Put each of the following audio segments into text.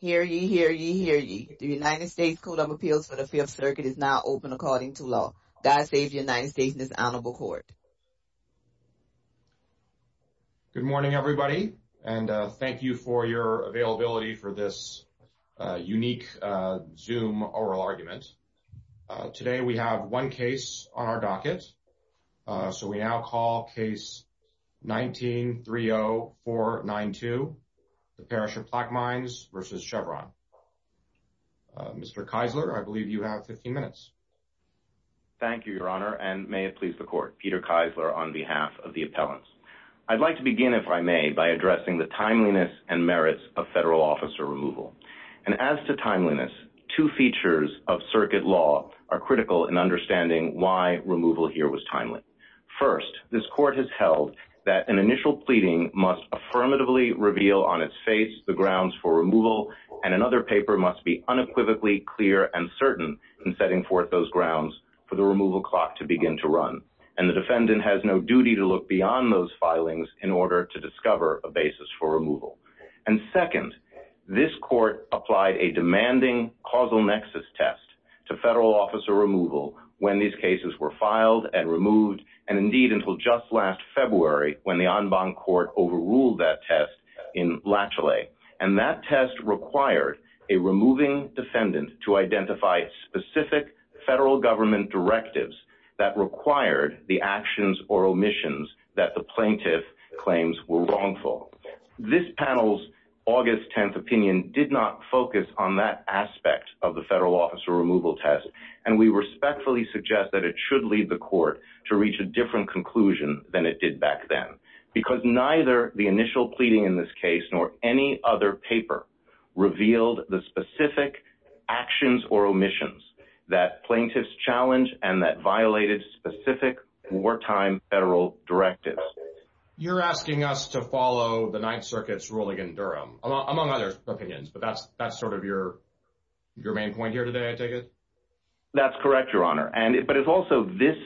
Hear ye, hear ye, hear ye. The United States Code of Appeals for the Fifth Circuit is now open according to law. God save the United States and his Honorable Court. Good morning everybody and thank you for your availability for this unique Zoom oral argument. Today we have one case on our docket. So we now call case 19-30492, the Parish of Plaquemines v. Chevron. Mr. Keisler, I believe you have 15 minutes. Thank you, Your Honor, and may it please the Court. Peter Keisler on behalf of the appellants. I'd like to begin, if I may, by addressing the timeliness and merits of federal officer removal. And as to timeliness, two features of circuit law are critical in understanding why removal here was timely. First, this Court has held that an initial pleading must affirmatively reveal on its face the grounds for removal and another paper must be unequivocally clear and certain in setting forth those grounds for the removal clock to begin to run. And the defendant has no duty to look beyond those filings in order to discover a basis for removal. And second, this removed and indeed until just last February when the en banc court overruled that test in Latchley. And that test required a removing defendant to identify specific federal government directives that required the actions or omissions that the plaintiff claims were wrongful. This panel's August 10th opinion did not focus on that aspect of the federal officer removal test, and we respectfully suggest that it should lead the Court to reach a different conclusion than it did back then. Because neither the initial pleading in this case nor any other paper revealed the specific actions or omissions that plaintiffs challenged and that violated specific wartime federal directives. You're asking us to follow the Ninth Circuit's ruling in Durham, among other opinions. But that's sort of your main point here today, I take it? That's correct, Your Honor. But it's also this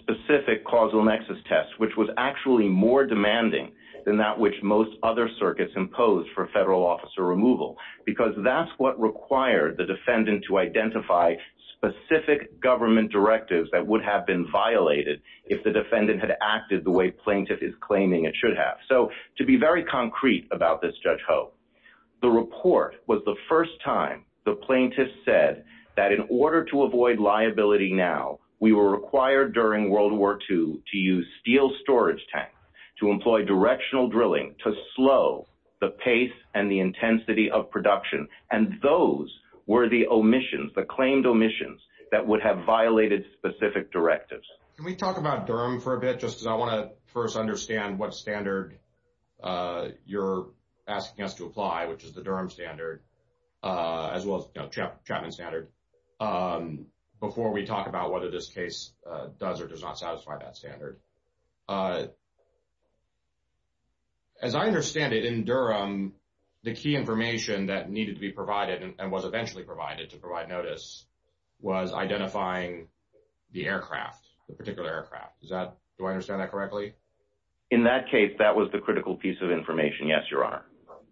specific causal nexus test, which was actually more demanding than that which most other circuits impose for federal officer removal, because that's what required the defendant to identify specific government directives that would have been violated if the defendant had acted the way plaintiff is claiming it should have. So to be very concrete about this, Judge Ho, the report was the first time the plaintiff said that in order to avoid liability now, we were required during World War II to use steel storage tanks to employ directional drilling to slow the pace and the intensity of production. And those were the omissions, the claimed omissions that would have violated specific directives. Can we talk about Durham for a bit, because I want to first understand what standard you're asking us to apply, which is the Durham standard, as well as Chapman standard, before we talk about whether this case does or does not satisfy that standard. As I understand it, in Durham, the key information that needed to be provided and was eventually provided to provide notice was identifying the aircraft, the particular aircraft. Do I understand that correctly? In that case, that was the critical piece of information, yes, Your Honor.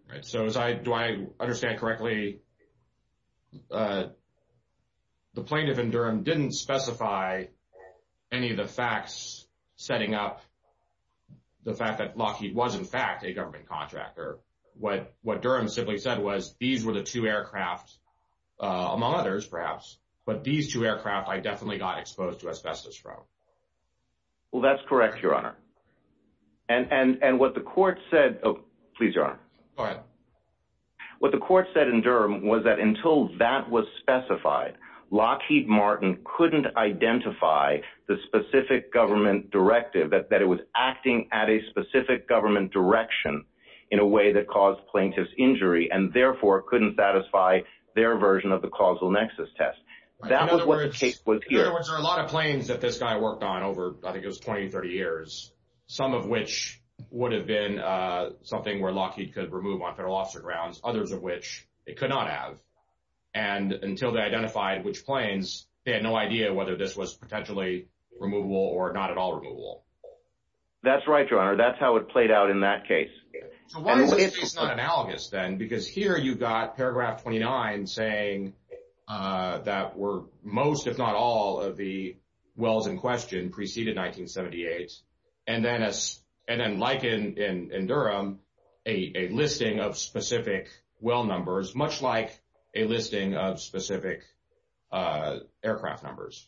Right. So do I understand correctly, the plaintiff in Durham didn't specify any of the facts setting up the fact that Lockheed was, in fact, a government contractor. What Durham simply said was, these were the two aircraft, among others, perhaps, but these two aircraft. Well, that's correct, Your Honor. And what the court said, please, Your Honor. Go ahead. What the court said in Durham was that until that was specified, Lockheed Martin couldn't identify the specific government directive, that it was acting at a specific government direction in a way that caused plaintiff's injury and therefore couldn't satisfy their version of causal nexus test. That was what the case was here. In other words, there are a lot of planes that this guy worked on over, I think it was 20, 30 years, some of which would have been something where Lockheed could remove on federal officer grounds, others of which it could not have. And until they identified which planes, they had no idea whether this was potentially removable or not at all removable. That's right, Your Honor. That's how it played out in that case. So why is this case not analogous, because here you've got paragraph 29 saying that most, if not all, of the wells in question preceded 1978. And then like in Durham, a listing of specific well numbers, much like a listing of specific aircraft numbers.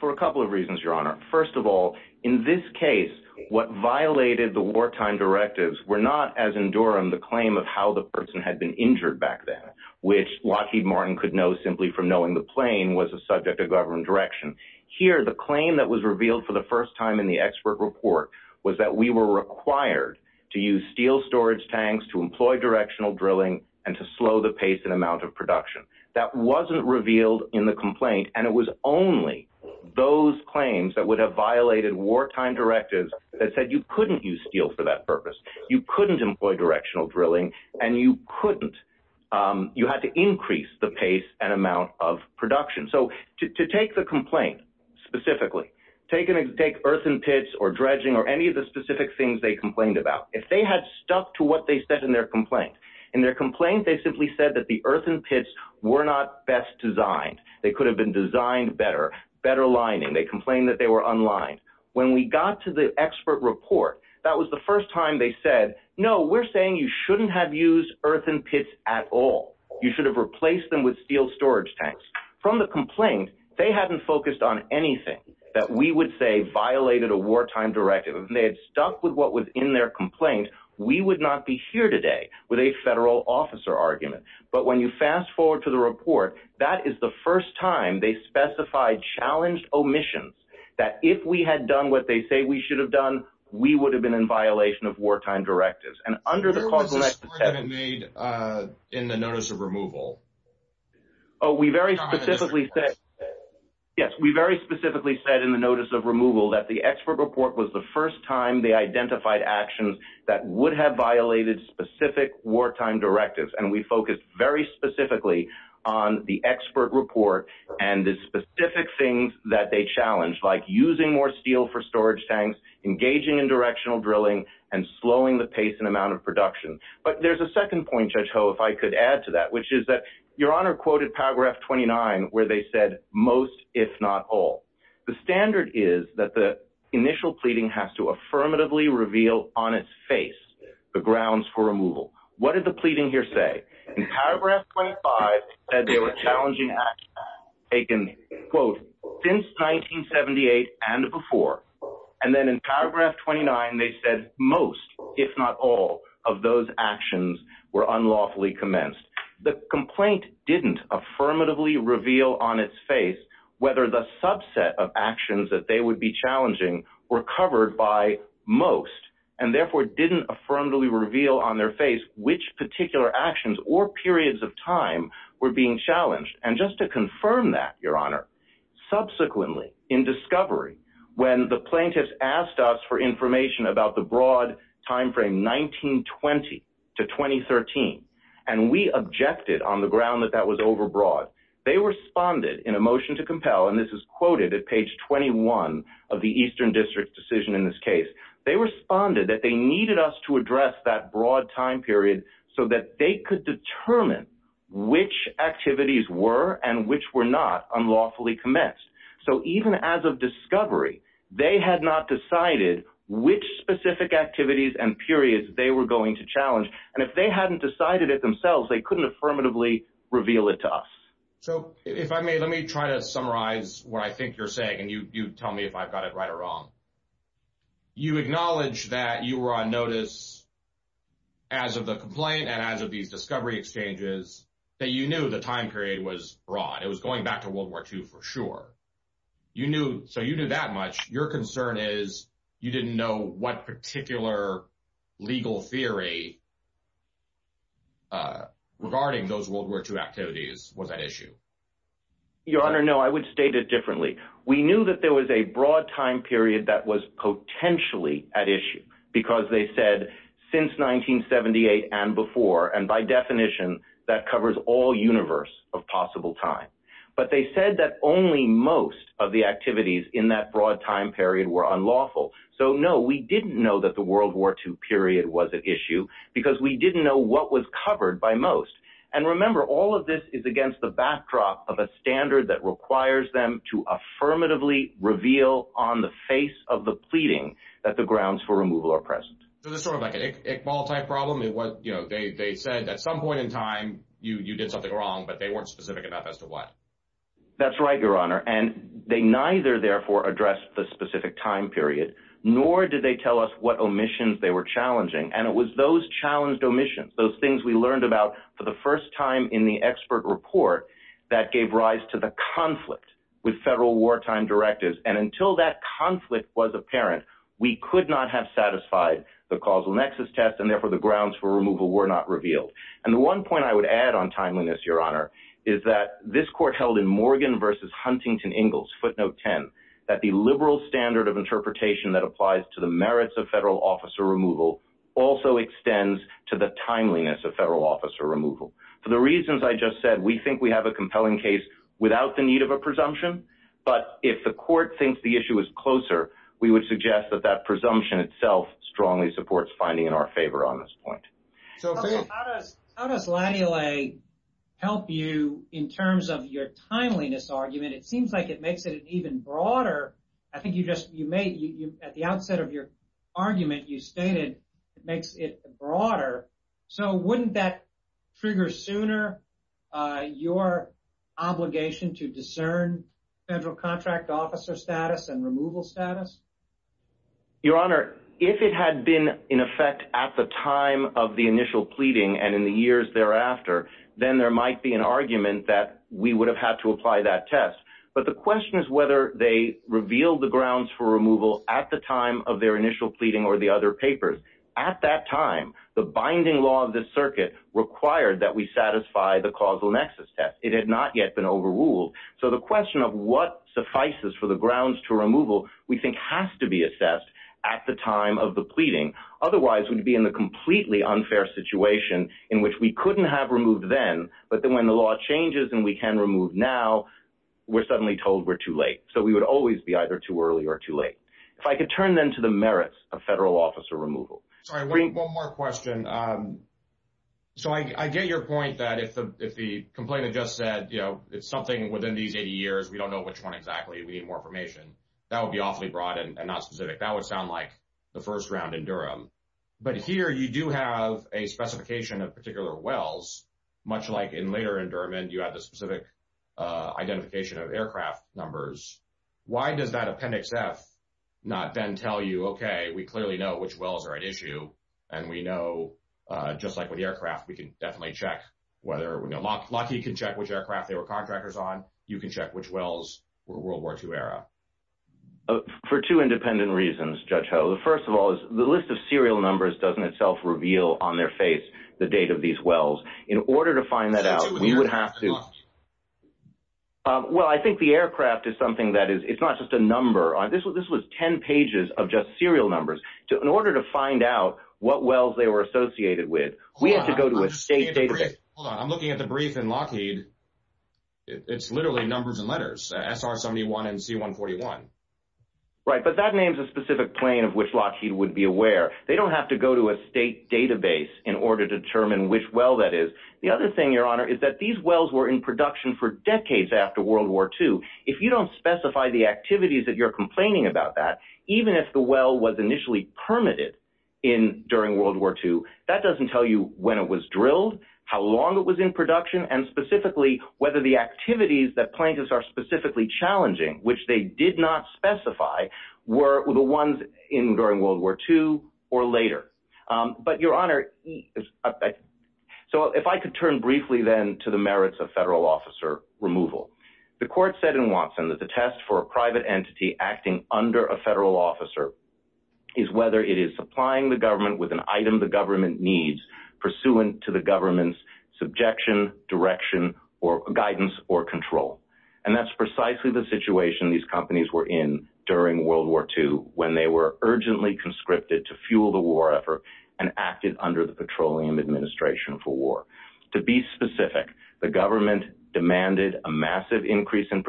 For a couple of reasons, Your Honor. First of all, in this case, what violated the wartime directives were not, as in Durham, the claim of how the person had been injured back then, which Lockheed Martin could know simply from knowing the plane was a subject of government direction. Here, the claim that was revealed for the first time in the expert report was that we were required to use steel storage tanks, to employ directional drilling, and to slow the pace and amount of production. That wasn't revealed in the complaint, and it was only those claims that would have violated wartime directives that said you couldn't use steel for that purpose, you couldn't employ directional drilling, and you couldn't, you had to increase the pace and amount of production. So to take the complaint specifically, take earthen pits or dredging or any of the specific things they complained about, if they had stuck to what they said in their complaint, in their complaint, they simply said the earthen pits were not best designed. They could have been designed better, better lining, they complained that they were unlined. When we got to the expert report, that was the first time they said, no, we're saying you shouldn't have used earthen pits at all. You should have replaced them with steel storage tanks. From the complaint, they hadn't focused on anything that we would say violated a wartime directive. If they had stuck with what was in their complaint, we would not be here today with a federal officer argument. But when you fast forward to the report, that is the first time they specified challenged omissions, that if we had done what they say we should have done, we would have been in violation of wartime directives. And under the... Where was this point made in the notice of removal? Oh, we very specifically said, yes, we very specifically said in the notice of removal that the expert report was the first time they identified actions that would have violated specific wartime directives. And we focused very specifically on the expert report and the specific things that they challenged, like using more steel for storage tanks, engaging in directional drilling, and slowing the pace and amount of production. But there's a second point, Judge Ho, if I could add to that, which is that Your Honor quoted paragraph 29, where they said, most, if not all. The standard is that the initial pleading has to affirmatively reveal on its face the grounds for removal. What did the pleading here say? In paragraph 25, they said they were challenging actions taken, quote, since 1978 and before. And then in paragraph 29, they said most, if not all, of those actions were unlawfully commenced. The complaint didn't affirmatively reveal on its face whether the subset of actions that they would be challenging were covered by most, and therefore didn't affirmatively reveal on their face which particular actions or periods of time were being challenged. And just to confirm that, Your Honor, subsequently in discovery, when the plaintiffs asked us for information about the broad time frame 1920 to 2013, and we objected on the ground that that was overbroad, they responded in a motion to compel, and this is quoted at page 21 of the Eastern District's decision in this case, they responded that they needed us to address that broad time period so that they could determine which activities were and which were not unlawfully commenced. So even as of discovery, they had not decided which specific activities and periods they were going to challenge, and if they hadn't decided it themselves, they couldn't affirmatively reveal it to us. So if I may, let me try to summarize what I think you're saying, and you tell me if I've got it right or wrong. You acknowledge that you were on notice as of the complaint and as of these discovery exchanges that you knew the time period was broad. It was going back to World War II for sure. You knew, so you knew that much. Your concern is you didn't know what particular legal theory regarding those World War II activities was at issue. Your Honor, no, I would state it differently. We knew that there was a broad time period that was potentially at issue, because they said since 1978 and before, and by definition, that covers all universe of possible time, but they said that only most of the activities in that broad time period were unlawful. So no, we didn't know that the World War II period was at issue, because we didn't know what was covered by most. And remember, all of this is against the backdrop of a standard that requires them to affirmatively reveal on the face of the pleading that the grounds for removal are present. So this is sort of like an Iqbal-type problem. They said at some point in time, you did something wrong, but they weren't specific about as to what. That's right, Your Honor. And they neither therefore addressed the specific time period, nor did they tell us what omissions they were challenging. And it was those challenged omissions, those things we learned about for the first time in the expert report, that gave rise to the conflict with federal wartime directives. And until that conflict was apparent, we could not have satisfied the causal nexus test, and therefore the grounds for removal were not revealed. And the one point I would add on timeliness, Your Honor, is that this court held in Morgan v. Huntington-Ingalls, footnote 10, that the liberal standard of interpretation that applies to the merits of federal officer removal also extends to the timeliness of federal officer removal. For the reasons I just said, we think we have a compelling case without the need of a presumption. But if the court thinks the issue is closer, we would suggest that that presumption itself strongly supports finding in our favor on this point. How does Latty-Lay help you in terms of your timeliness argument? It seems like it makes it even broader. I think at the outset of your argument, you stated it makes it broader. So wouldn't that trigger sooner your obligation to discern federal contract officer status and removal status? Your Honor, if it had been in effect at the time of the initial pleading and in the years thereafter, then there might be an argument that we would have had to apply that test. But the question is whether they revealed the grounds for removal at the time of their initial pleading or the other papers. At that time, the binding law of this circuit required that we satisfy the causal nexus test. It had not yet been overruled. So the question of what suffices for the grounds to removal we think has to be assessed at the time of the pleading. Otherwise, we'd be in the completely unfair situation in which we couldn't have removed then. But then when the law changes and we can remove now, we're suddenly told we're too late. So we would always be either too early or too late. If I could turn then to the merits of federal officer removal. Sorry, one more question. So I get your point that if the complainant just said, you know, it's something within these 80 That would be awfully broad and not specific. That would sound like the first round in Durham. But here you do have a specification of particular wells, much like in later in Durham and you have the specific identification of aircraft numbers. Why does that appendix F not then tell you, okay, we clearly know which wells are at issue. And we know, just like with the aircraft, we can definitely check whether we know Lockheed can check which aircraft they were You can check which wells were World War Two era. For two independent reasons, Judge Ho. The first of all is the list of serial numbers doesn't itself reveal on their face the date of these wells. In order to find that out, we would have to Well, I think the aircraft is something that is it's not just a number on this. This was 10 pages of just serial numbers to in order to find out what wells they were associated with. We have to It's literally numbers and letters SR 71 and C 141 Right, but that names a specific plane of which Lockheed would be aware. They don't have to go to a state database in order to determine which well that is. The other thing, Your Honor, is that these wells were in production for decades after World War Two. If you don't specify the activities that you're complaining about that, even if the well was initially permitted in during World War Two, that doesn't tell you when it was drilled, how long it was in production and specifically whether the activities that plaintiffs are specifically challenging which they did not specify were the ones in during World War Two or later, but Your Honor. So if I could turn briefly then to the merits of federal officer removal. The court said in Watson that the test for a private entity acting under a federal officer. Is whether it is supplying the government with an item the government needs pursuant to the government's subjection direction or guidance or control. And that's precisely the situation these companies were in during World War Two, when they were urgently conscripted to fuel the war effort and acted under the Petroleum Administration for war. To be specific, the government demanded a massive increase in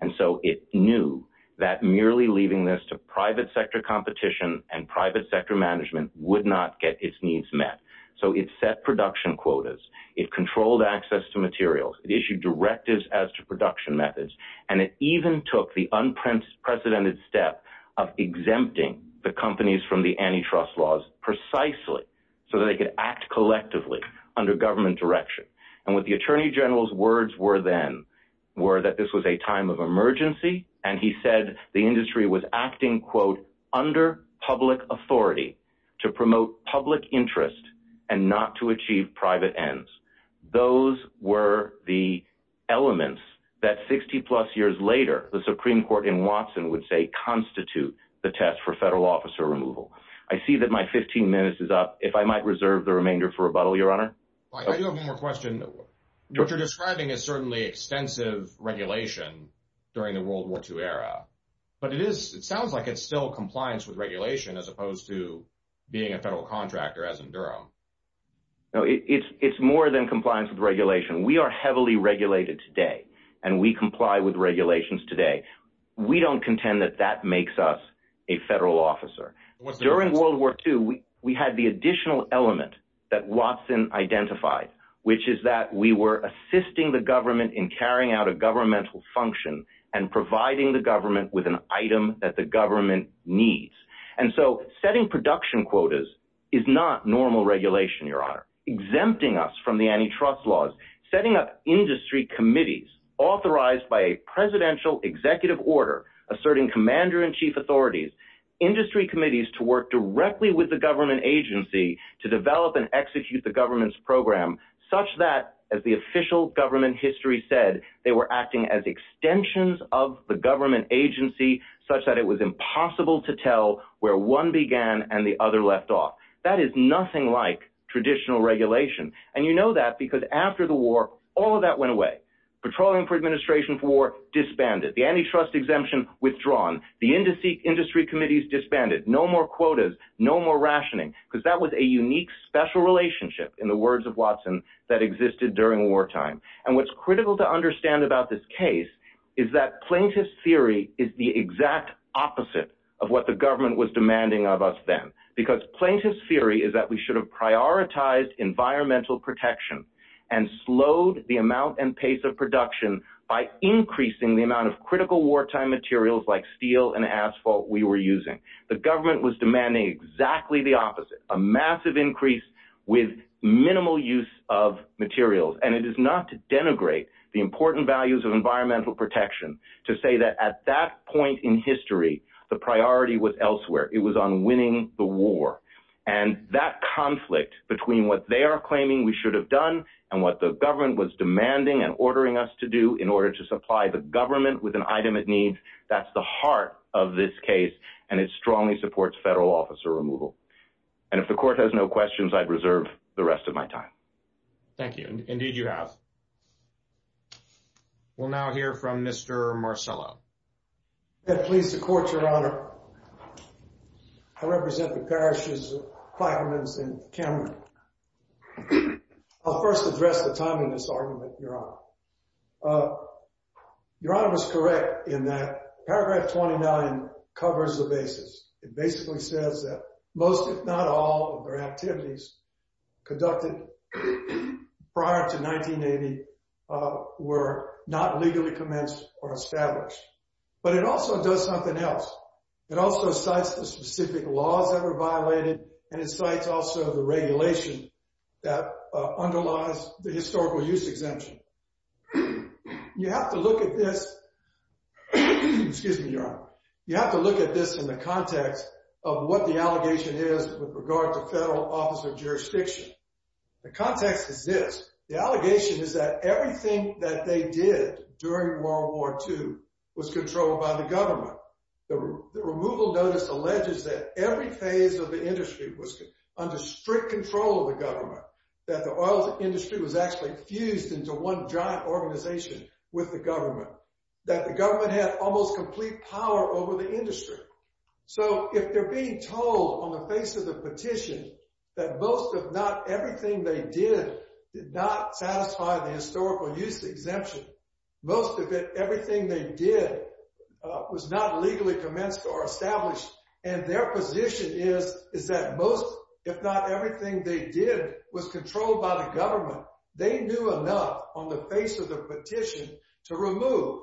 And so it knew that merely leaving this to private sector competition and private sector management would not get its needs met. So it's set production quotas. It controlled access to materials. It issued directives as to production methods, and it even took the unprecedented step of exempting the companies from the antitrust laws precisely so that they could act collectively under government direction. And with the Attorney General's words were then were that this was a time of emergency, and he said the industry was acting quote under public authority to promote public interest and not to achieve private ends. Those were the elements that 60 plus years later, the Supreme Court in Watson would say constitute the test for federal officer removal. I see that my 15 minutes is up. If I might reserve the remainder for rebuttal, Your Honor. I do have one more question. What you're describing is certainly extensive regulation during the World War Two era, but it is. It sounds like it's still compliance with regulation as opposed to being a federal contractor, as in Durham. No, it's more than compliance with regulation. We are heavily regulated today, and we comply with regulations today. We don't contend that that makes us a federal officer. During World War Two, we had the additional element that Watson identified, which is that we were assisting the government in carrying out a governmental function and providing the government with an item that the government needs. And so setting production quotas is not normal regulation, Your Honor. Exempting us from the antitrust laws, setting up industry committees authorized by a work directly with the government agency to develop and execute the government's program such that, as the official government history said, they were acting as extensions of the government agency such that it was impossible to tell where one began and the other left off. That is nothing like traditional regulation. And you know that because after the war, all of that went away. Patrolling for administration for war disbanded. The industry committees disbanded. No more quotas. No more rationing. Because that was a unique, special relationship, in the words of Watson, that existed during wartime. And what's critical to understand about this case is that plaintiff's theory is the exact opposite of what the government was demanding of us then. Because plaintiff's theory is that we should have prioritized environmental protection and slowed the amount and pace of production by increasing the amount of critical wartime materials like steel and asphalt we were using. The government was demanding exactly the opposite, a massive increase with minimal use of materials. And it is not to denigrate the important values of environmental protection to say that at that point in history, the priority was elsewhere. It was on winning the war. And that conflict between what they are claiming we should have done and what the government is ordering us to do in order to supply the government with an item it needs, that's the heart of this case, and it strongly supports federal officer removal. And if the court has no questions, I'd reserve the rest of my time. Thank you. Indeed, you have. We'll now hear from Mr. Marcello. I'm pleased to court, Your Honor. I represent the parishes of Clackamas and Cameron. I'll first address the timeliness argument, Your Honor. Your Honor was correct in that paragraph 29 covers the basis. It basically says that most, if not all, of their activities conducted prior to 1980 were not legally commenced or established. But it also does something else. It also cites the specific laws that were violated, and it cites also the regulation that underlies the historical use exemption. You have to look at this. Excuse me, Your Honor. You have to look at this in the context of what the allegation is with regard to federal officer jurisdiction. The context is this. The allegation is that everything that they did during World War II was controlled by the government. The removal notice alleges that every phase of the industry was under strict control of the government, that the oil industry was actually fused into one giant organization with the government, that the government had almost complete power over the industry. So if they're being told on the face of the petition that most, if not everything, they did did not satisfy the historical use exemption, most of it, everything they did was not legally commenced or established, and their position is, is that most, if not everything, they did was controlled by the government. They knew enough on the face of the petition to remove.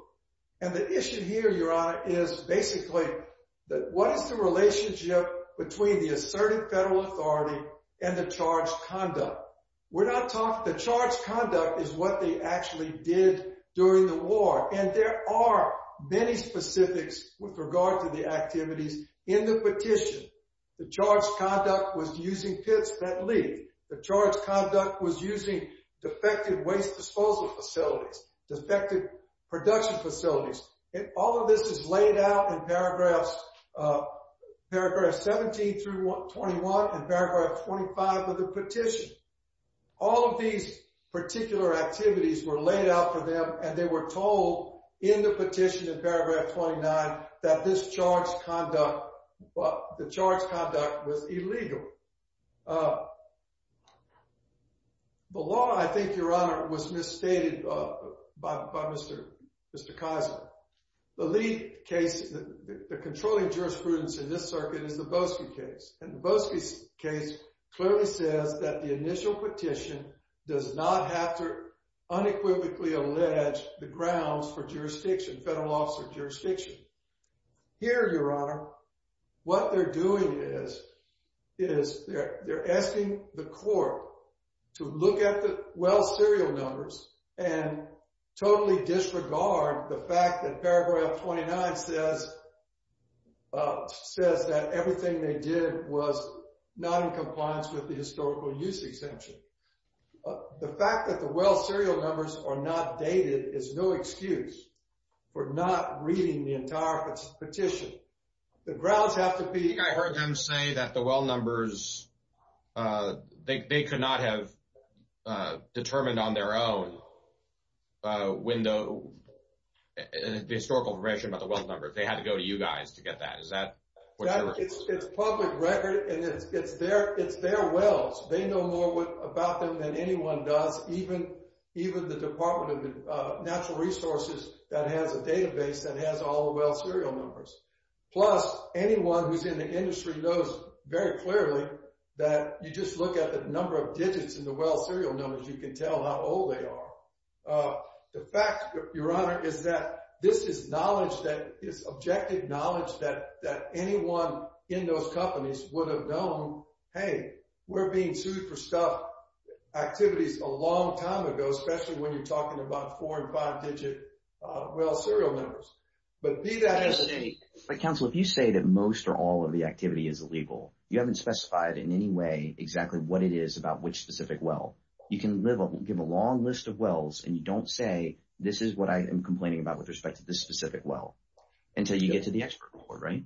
And the issue here, Your Honor, is basically that what is the relationship between the asserted federal authority and the charged conduct? We're not talking, the charged conduct is what they actually did during the war. And there are many specifics with regard to the activities in the petition. The charged conduct was using pits that leaked. The charged conduct was using defective waste disposal facilities, defective production facilities. And all of this is laid out in paragraphs, paragraphs 17 through 21, and paragraph 25 of the petition. All of these particular activities were laid out for them, and they were told in the petition in paragraph 29, that this charged conduct, the charged conduct was illegal. The law, I think, Your Honor, was misstated by Mr. Kaiser. The lead case, the controlling jurisprudence in this circuit is the Boesky case. And the case clearly says that the initial petition does not have to unequivocally allege the grounds for jurisdiction, federal officer jurisdiction. Here, Your Honor, what they're doing is, is they're asking the court to look at the well serial numbers and totally disregard the fact that paragraph 29 says, says that everything they did was not in compliance with the historical use exemption. The fact that the well serial numbers are not dated is no excuse for not reading the entire petition. The grounds have to be... I heard them say that the well numbers, uh, they could not have determined on their own, uh, when the historical information about the well number. They had to go to you guys to get that. Is that... It's public record and it's, it's their, it's their wells. They know more about them than anyone does, even, even the Department of Natural Resources that has a database that has all the well serial numbers. Plus, anyone who's in the industry knows very clearly that you just look at the number of digits in the well serial numbers, you can tell how old they are. Uh, the fact, Your Honor, is that this is knowledge that is objective knowledge that, that anyone in those companies would have known, hey, we're being sued for stuff, activities a long time ago, especially when you're talking about four and five digit, well serial numbers. But be that as it may... But counsel, if you say that most or all of the activity is illegal, you haven't specified in any way exactly what it is about which specific well. You can live up, give a long list of wells and you don't say, this is what I am complaining about with respect to this specific well until you get to the expert report, right?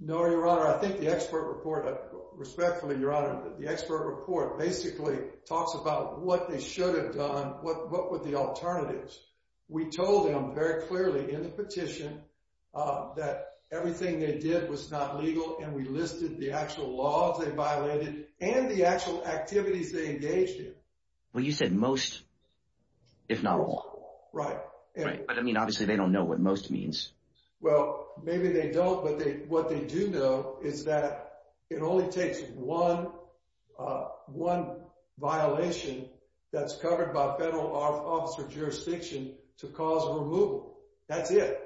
No, Your Honor. I think the expert report, respectfully, Your Honor, the expert report basically talks about what they should have done, what were the alternatives. We told them very clearly in the petition that everything they did was not legal and we listed the actual laws they violated and the actual activities they engaged in. Well, you said most, if not all. Right. Right. But I mean, obviously they don't know what most means. Well, maybe they don't, but what they do know is that it only takes one violation that's covered by federal officer jurisdiction to cause removal. That's it.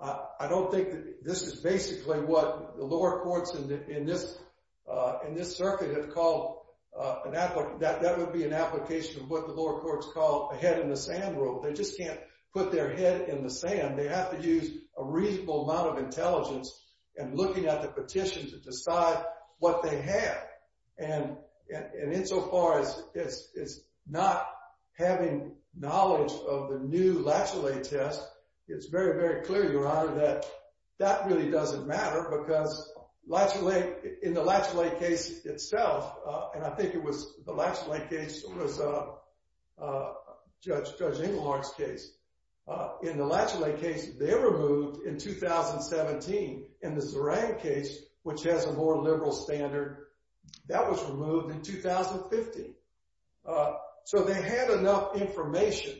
I don't think this is basically what the lower courts in this circuit have called... That would be an application of what the lower courts call a head in the sand rule. They just can't put their head in the sand. They have to use a reasonable amount of intelligence and looking at the petition to decide what they have. And insofar as it's not having knowledge of the new Latchley test, it's very, very clear, Your Honor, that that really doesn't matter because in the Latchley case itself, and I think it was the Latchley case was Judge Engelhardt's case. In the Latchley case, they removed in 2017, and the Zaran case, which has a more liberal standard, that was removed in 2015. So they had enough information.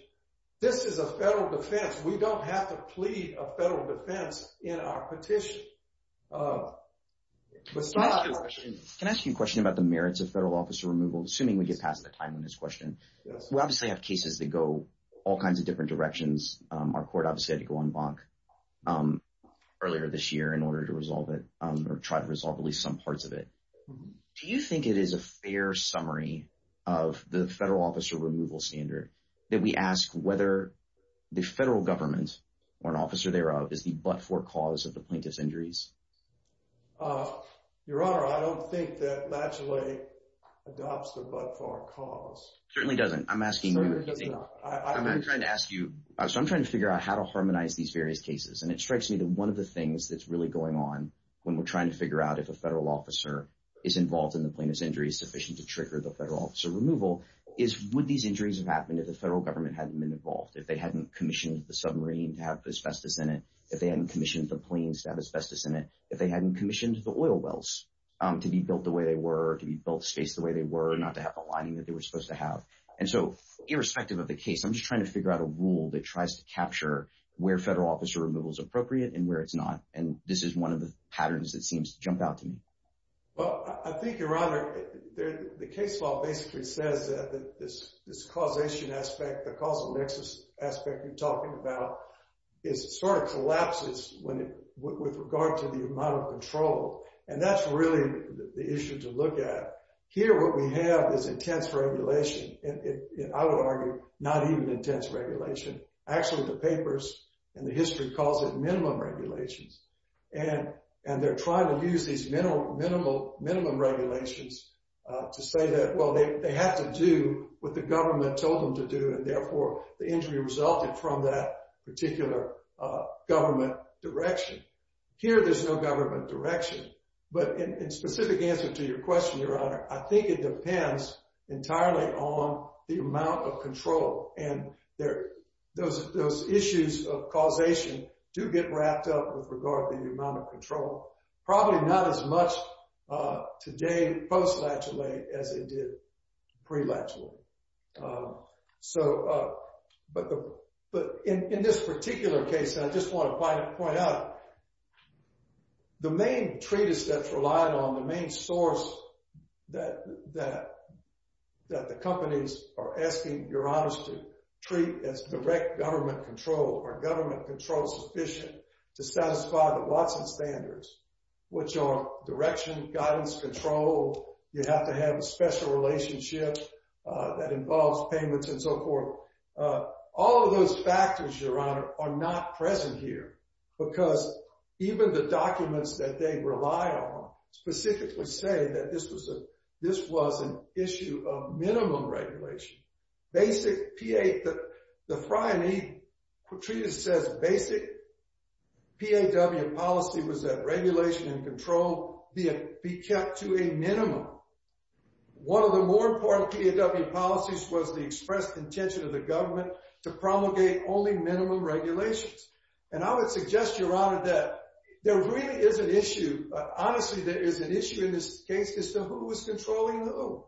This is a federal defense. We don't have to plead a federal defense in our petition. Can I ask you a question about the merits of federal officer removal, assuming we get past the time on this question? We obviously have cases that go all kinds of different directions. Our court obviously had to go on bonk earlier this year in order to resolve it or try to resolve at least some parts of it. Do you think it is a fair summary of the federal officer removal standard that we ask whether the federal government or an officer thereof is the but-for cause of the plaintiff's injuries? Your Honor, I don't think that Latchley adopts the but-for cause. Certainly doesn't. So I'm trying to figure out how to harmonize these various cases, and it strikes me that one of the things that's really going on when we're trying to figure out if a federal officer is involved in the plaintiff's injuries sufficient to trigger the federal officer removal is would these injuries have happened if the federal government hadn't been involved, if they hadn't commissioned the submarine to have asbestos in it, if they hadn't commissioned the planes to have asbestos in it, if they hadn't commissioned the oil wells to be built the way they were and not to have the lining that they were supposed to have. And so irrespective of the case, I'm just trying to figure out a rule that tries to capture where federal officer removal is appropriate and where it's not. And this is one of the patterns that seems to jump out to me. Well, I think, Your Honor, the case law basically says that this causation aspect, the causal nexus aspect you're talking about is sort of collapses with regard to the amount of control. And that's really the issue to look at. Here, what we have is intense regulation, and I would argue not even intense regulation. Actually, the papers and the history calls it minimum regulations. And they're trying to use these minimum regulations to say that, well, they had to do what the government told them to do. And therefore, the injury resulted from that government direction. But in specific answer to your question, Your Honor, I think it depends entirely on the amount of control. And those issues of causation do get wrapped up with regard to the amount of control, probably not as much today post-lateral aid as it did pre-lateral aid. But in this particular case, I just want to point out the main treatise that's relied on, the main source that the companies are asking, Your Honors, to treat as direct government control or government control sufficient to satisfy the Watson standards, which are direction, guidance, control. You have to have a special relationship that involves payments and so forth. All of those factors, Your Honor, are not present here, because even the documents that they rely on specifically say that this was an issue of minimum regulation. The Frey and Eden treatise says basic PAW policy was that regulation and control be kept to a minimum. One of the more important PAW policies was the expressed intention of the government to promulgate only minimum regulations. And I would suggest, Your Honor, that there really is an issue. Honestly, there is an issue in this case as to who is controlling who.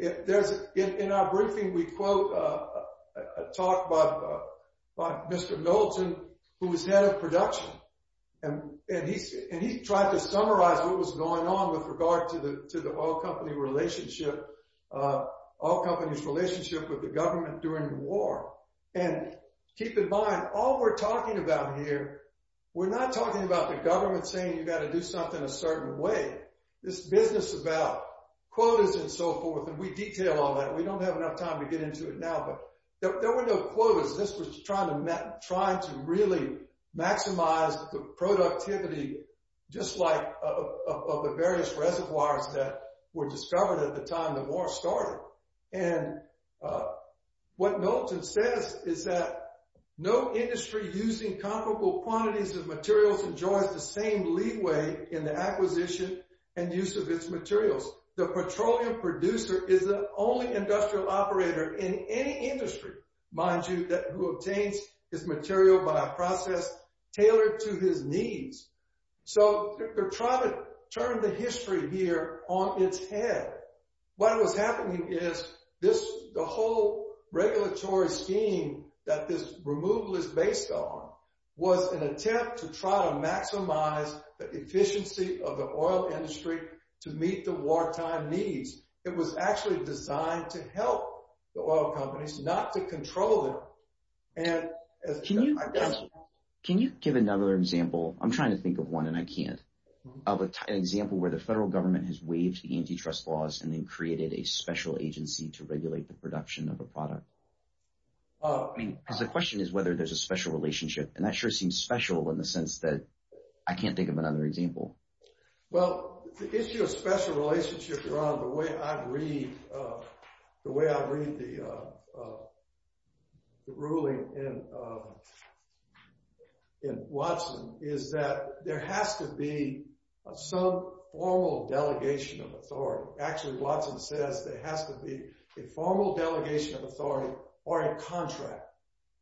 In our briefing, we quote a talk by Mr. Knowlton, who was head of production, and he tried to summarize what was going on with regard to the oil company relationship, oil company's relationship with the government during the war. And keep in mind, all we're talking about here, we're not talking about the government saying you've got to do something a certain way. This business about quotas and so forth, and we detail all that. We don't have enough time to get into it now, but there were no quotas. This was trying to really maximize the productivity, just like of the various reservoirs that were discovered at the time the war started. And what Knowlton says is that no industry using comparable quantities of materials enjoys the same leeway in the acquisition and use of its materials. The petroleum producer is the only industrial operator in any industry, mind you, who obtains his material by a process tailored to his needs. So they're trying to turn the history here on its head. What was happening is this, the whole regulatory scheme that this removal is based on, was an attempt to try to maximize the efficiency of the oil industry to meet the wartime needs. It was actually designed to help the oil companies, not to control them. Can you give another example? I'm trying to think of one and I can't. An example where the federal government has waived the antitrust laws and then created a special agency to regulate the production of a product. Because the question is whether there's a special relationship, and that sure seems special in the sense that I can't think of another example. Well, the issue of special relationship, your honor, the way I read the ruling in Watson is that there has to be some formal delegation of authority. Actually, Watson says there has to be a formal delegation of authority or a contract.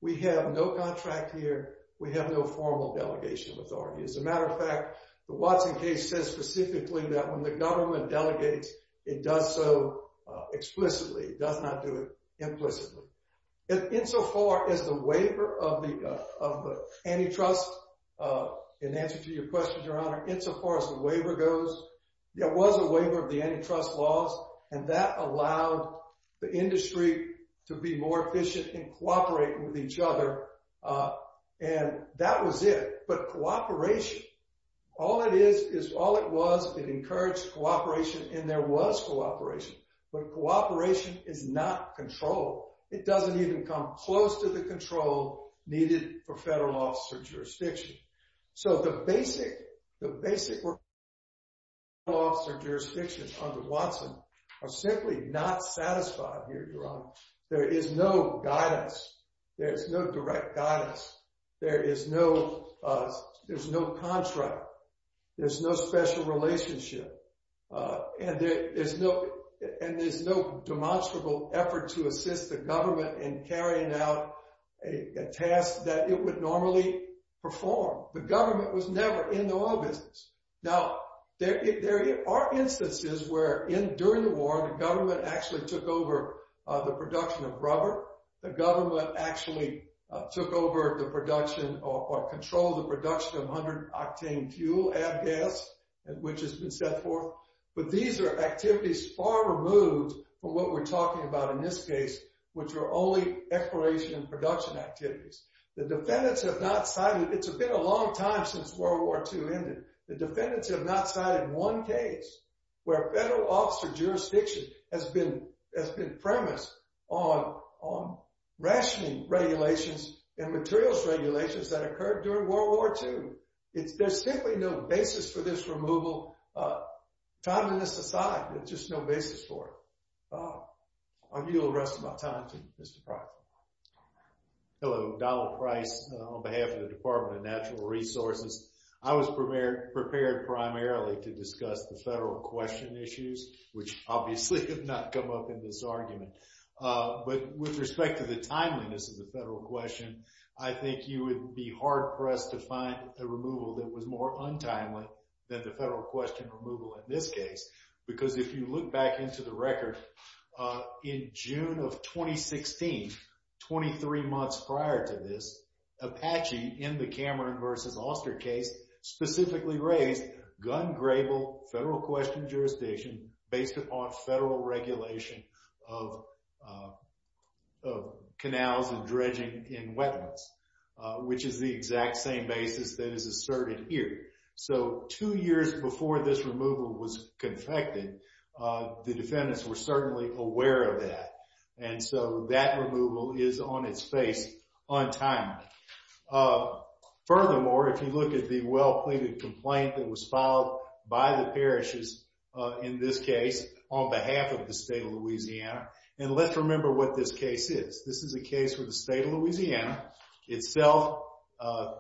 We have no contract here, we have no formal delegation of authority. As a matter of fact, the Watson case says specifically that when the government delegates, it does so explicitly, it does not do it implicitly. Insofar as the waiver of the antitrust, in answer to your question, your honor, insofar as the waiver goes, there was a waiver of the antitrust laws and that allowed the industry to be more efficient and cooperate with each other. And that was it. But cooperation, all it is, is all it was, it encouraged cooperation and there was cooperation. But cooperation is not control. It doesn't even come close to the control needed for federal officer jurisdiction. So the basic work of federal officer jurisdictions under there is no guidance. There's no direct guidance. There's no contract. There's no special relationship. And there's no demonstrable effort to assist the government in carrying out a task that it would normally perform. The government was never in the oil business. Now, there are instances where during the war, the government actually took over the production of rubber. The government actually took over the production or controlled the production of 100 octane fuel add gas, which has been set forth. But these are activities far removed from what we're talking about in this case, which are only exploration and production activities. The defendants have not cited, it's been a long time since World War II ended. The defendants have not cited one case where federal officer jurisdiction has been premised on rationing regulations and materials regulations that occurred during World War II. There's simply no basis for this removal. Timeliness aside, there's just no basis for it. I yield the rest of my time to Mr. Price. Hello, Donald Price on behalf of the Department of Natural Resources. I was prepared primarily to discuss the federal question issues, which obviously have not come up in this argument. But with respect to the timeliness of the federal question, I think you would be hard pressed to find a removal that was more untimely than the federal question removal in this case. Because if you look back into the record, in June of 2016, 23 months prior to this, Apache, in the Cameron versus Oster case, specifically raised gun grable, federal question jurisdiction based upon federal regulation of canals and dredging in wetlands, which is the exact same basis that is asserted here. So two years before this removal was untimely. Furthermore, if you look at the well-pleaded complaint that was filed by the parishes in this case on behalf of the state of Louisiana, and let's remember what this case is. This is a case where the state of Louisiana itself,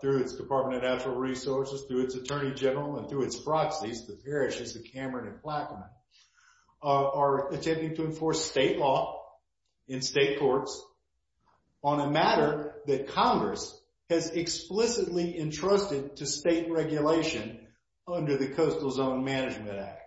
through its Department of Natural Resources, through its Attorney General, and through its proxies, the parishes of Cameron and Plaquemine, are attempting to enforce state law in state courts on a matter that Congress has explicitly entrusted to state regulation under the Coastal Zone Management Act.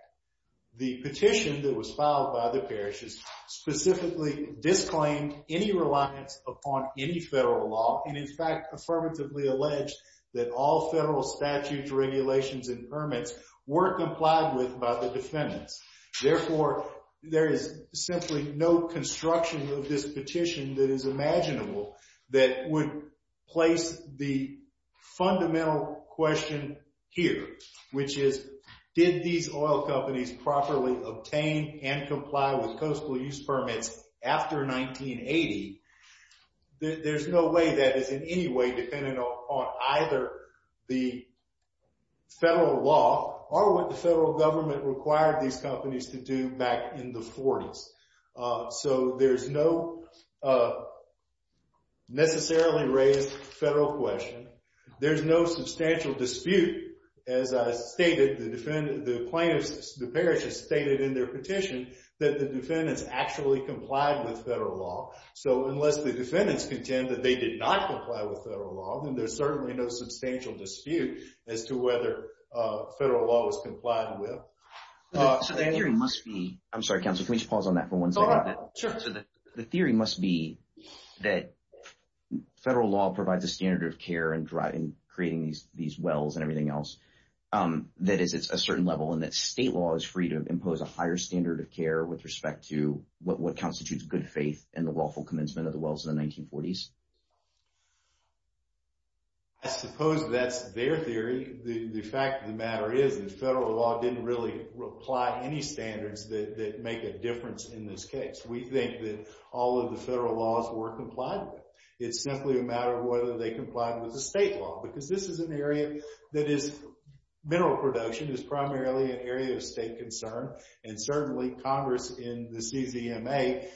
The petition that was filed by the parishes specifically disclaimed any reliance upon any federal law, and in fact, affirmatively alleged that all federal statutes, regulations, and permits weren't complied with by the defendants. Therefore, there is essentially no construction of this petition that is imaginable that would place the fundamental question here, which is, did these oil companies properly obtain and comply with coastal use or what the federal government required these companies to do back in the 40s? So, there's no necessarily raised federal question. There's no substantial dispute. As I stated, the plaintiffs, the parishes stated in their petition that the defendants actually complied with federal law. So, unless the defendants contend that they did not comply with federal law, then there's certainly no substantial dispute as to whether federal law was complied with. So, the theory must be, I'm sorry, counsel, can we just pause on that for one second? The theory must be that federal law provides a standard of care in creating these wells and everything else. That is, it's a certain level and that state law is free to impose a higher standard of care with respect to what constitutes good faith and the lawful commencement of the 1940s. I suppose that's their theory. The fact of the matter is that federal law didn't really apply any standards that make a difference in this case. We think that all of the federal laws were complied with. It's simply a matter of whether they complied with the state law, because this is an area that is mineral production is primarily an area of state concern. And certainly, Congress in the CZMA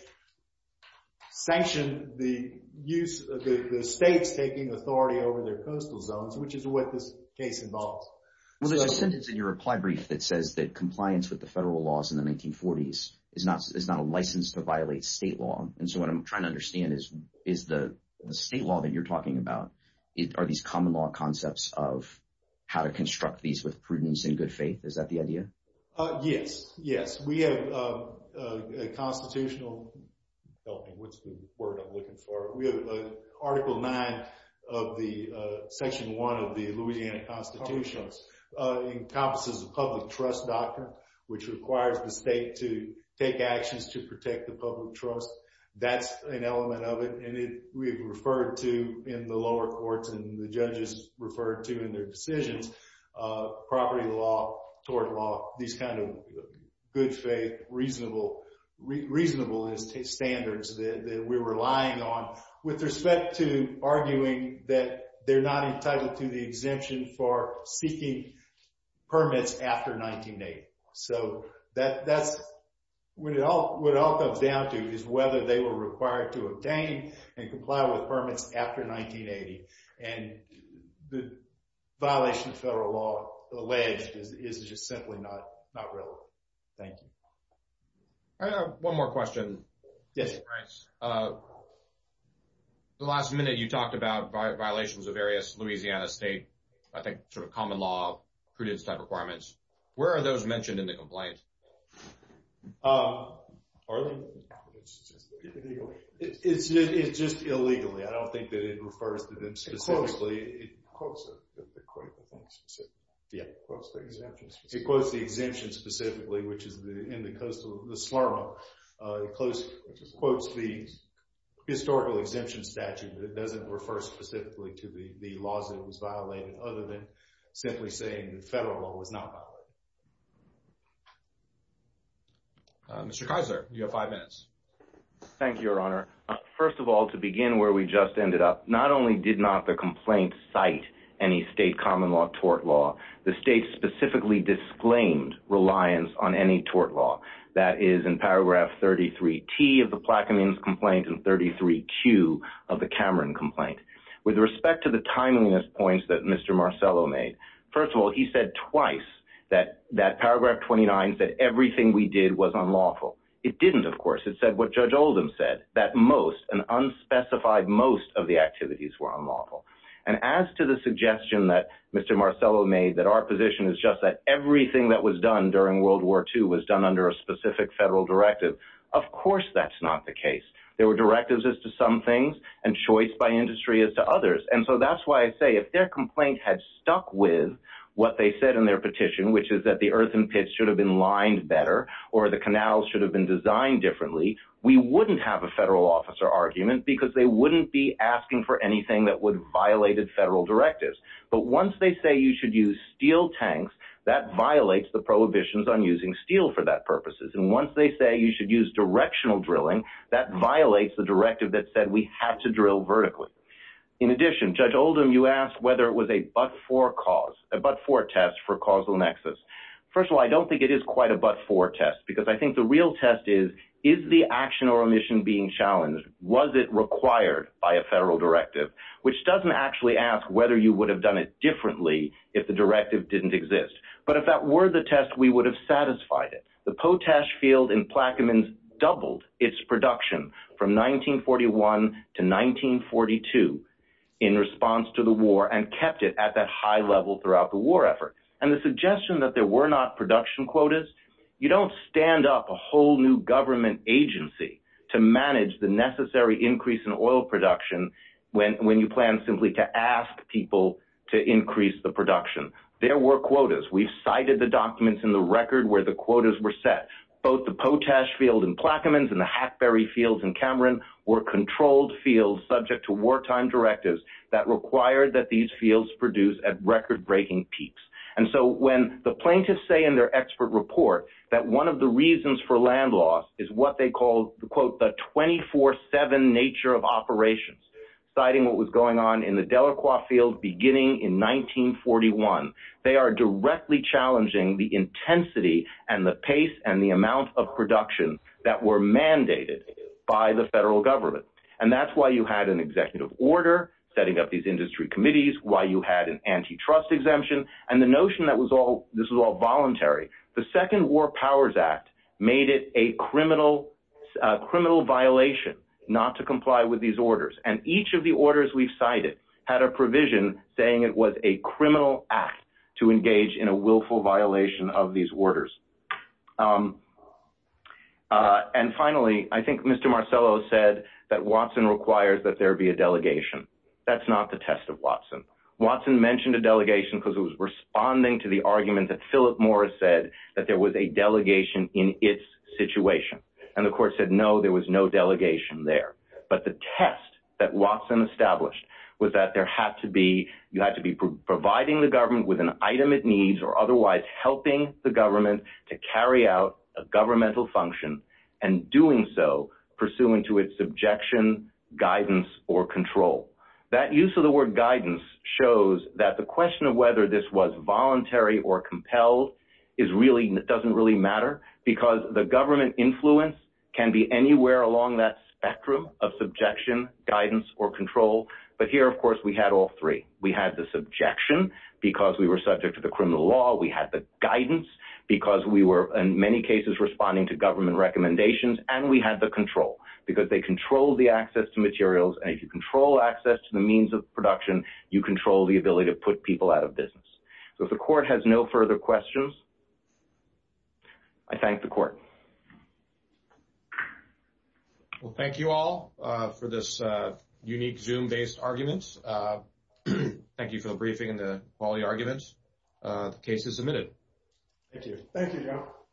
sanctioned the use of the states taking authority over their coastal zones, which is what this case involves. Well, there's a sentence in your reply brief that says that compliance with the federal laws in the 1940s is not a license to violate state law. And so, what I'm trying to understand is the state law that you're talking about, are these common law concepts of how to construct these with prudence and good faith? Is that the answer? Yes. We have a constitutional, help me, what's the word I'm looking for? We have Article 9 of the Section 1 of the Louisiana Constitution, encompasses a public trust doctrine, which requires the state to take actions to protect the public trust. That's an element of it. And we've referred to in the lower courts and the judges referred to in their good faith, reasonable standards that we were relying on with respect to arguing that they're not entitled to the exemption for seeking permits after 1980. So, that's what it all comes down to is whether they were required to obtain and comply with permits after 1980. And the violation of that is simply not relevant. Thank you. I have one more question. Yes. The last minute you talked about violations of various Louisiana state, I think, sort of common law prudence type requirements. Where are those mentioned in the complaint? It's just illegally. I don't think that it refers to the exemption specifically, which is in the coastal, the slur. It quotes the historical exemption statute that doesn't refer specifically to the laws that was violated other than simply saying the federal law was not violated. Mr. Kaiser, you have five minutes. Thank you, Your Honor. First of all, to begin where we just ended up, not only did not the complaint cite any state common law tort law, the state specifically disclaimed reliance on any tort law. That is in paragraph 33T of the Plaquemines complaint and 33Q of the Cameron complaint. With respect to the timeliness points that Mr. Marcello made, first of all, he said twice that paragraph 29 said everything we did was unlawful. It didn't, of course. It said what Judge Oldham said, that most, an unspecified most of the activities were unlawful. And as to the suggestion that Mr. Marcello made that our position is just that everything that was done during World War II was done under a specific federal directive, of course that's not the case. There were directives as to some things and choice by industry as to others. And so that's why I say if their complaint had stuck with what they said in their petition, which is that the earthen pits should have been a federal officer argument, because they wouldn't be asking for anything that would violate federal directives. But once they say you should use steel tanks, that violates the prohibitions on using steel for that purposes. And once they say you should use directional drilling, that violates the directive that said we had to drill vertically. In addition, Judge Oldham, you asked whether it was a but-for cause, a but-for test for causal nexus. First of all, I don't think it is quite a but-for test, because I think the real test is, is the action or omission being challenged? Was it required by a federal directive? Which doesn't actually ask whether you would have done it differently if the directive didn't exist. But if that were the test, we would have satisfied it. The Potash Field in Plaquemines doubled its production from 1941 to 1942 in response to the war and kept it at that high level throughout the war effort. And the suggestion that there were not production quotas, you don't stand up a whole new government agency to manage the necessary increase in oil production when you plan simply to ask people to increase the production. There were quotas. We've cited the documents in the record where the quotas were set. Both the Potash Field in Plaquemines and the Hackberry Fields in Cameron were controlled fields subject to wartime directives that required that one of the reasons for land loss is what they called the, quote, the 24-7 nature of operations, citing what was going on in the Delacroix Field beginning in 1941. They are directly challenging the intensity and the pace and the amount of production that were mandated by the federal government. And that's why you had an executive order setting up these industry committees, why you had an antitrust exemption, and the notion that this was all voluntary. The Second War Powers Act made it a criminal violation not to comply with these orders. And each of the orders we've cited had a provision saying it was a criminal act to engage in a willful violation of these orders. And finally, I think Mr. Marcello said that Watson requires that there be a delegation. That's not the test of Watson. Watson mentioned a delegation because it was responding to the argument that Philip Morris said that there was a delegation in its situation. And the court said no, there was no delegation there. But the test that Watson established was that there had to be, you had to be providing the government with an item it needs or otherwise helping the government to carry out a governmental function and doing so pursuant to its objection, guidance, or control. That use of the word guidance shows that the question of whether this was voluntary or compelled doesn't really matter because the government influence can be anywhere along that spectrum of subjection, guidance, or control. But here, of course, we had all three. We had the subjection because we were subject to the criminal law. We had the guidance because we were in many cases responding to government recommendations. And we had the control because they controlled the access to materials. And if control access to the means of production, you control the ability to put people out of business. So if the court has no further questions, I thank the court. Well, thank you all for this unique Zoom-based argument. Thank you for the briefing and the quality arguments. The case is submitted. Thank you. Thank you, Joe.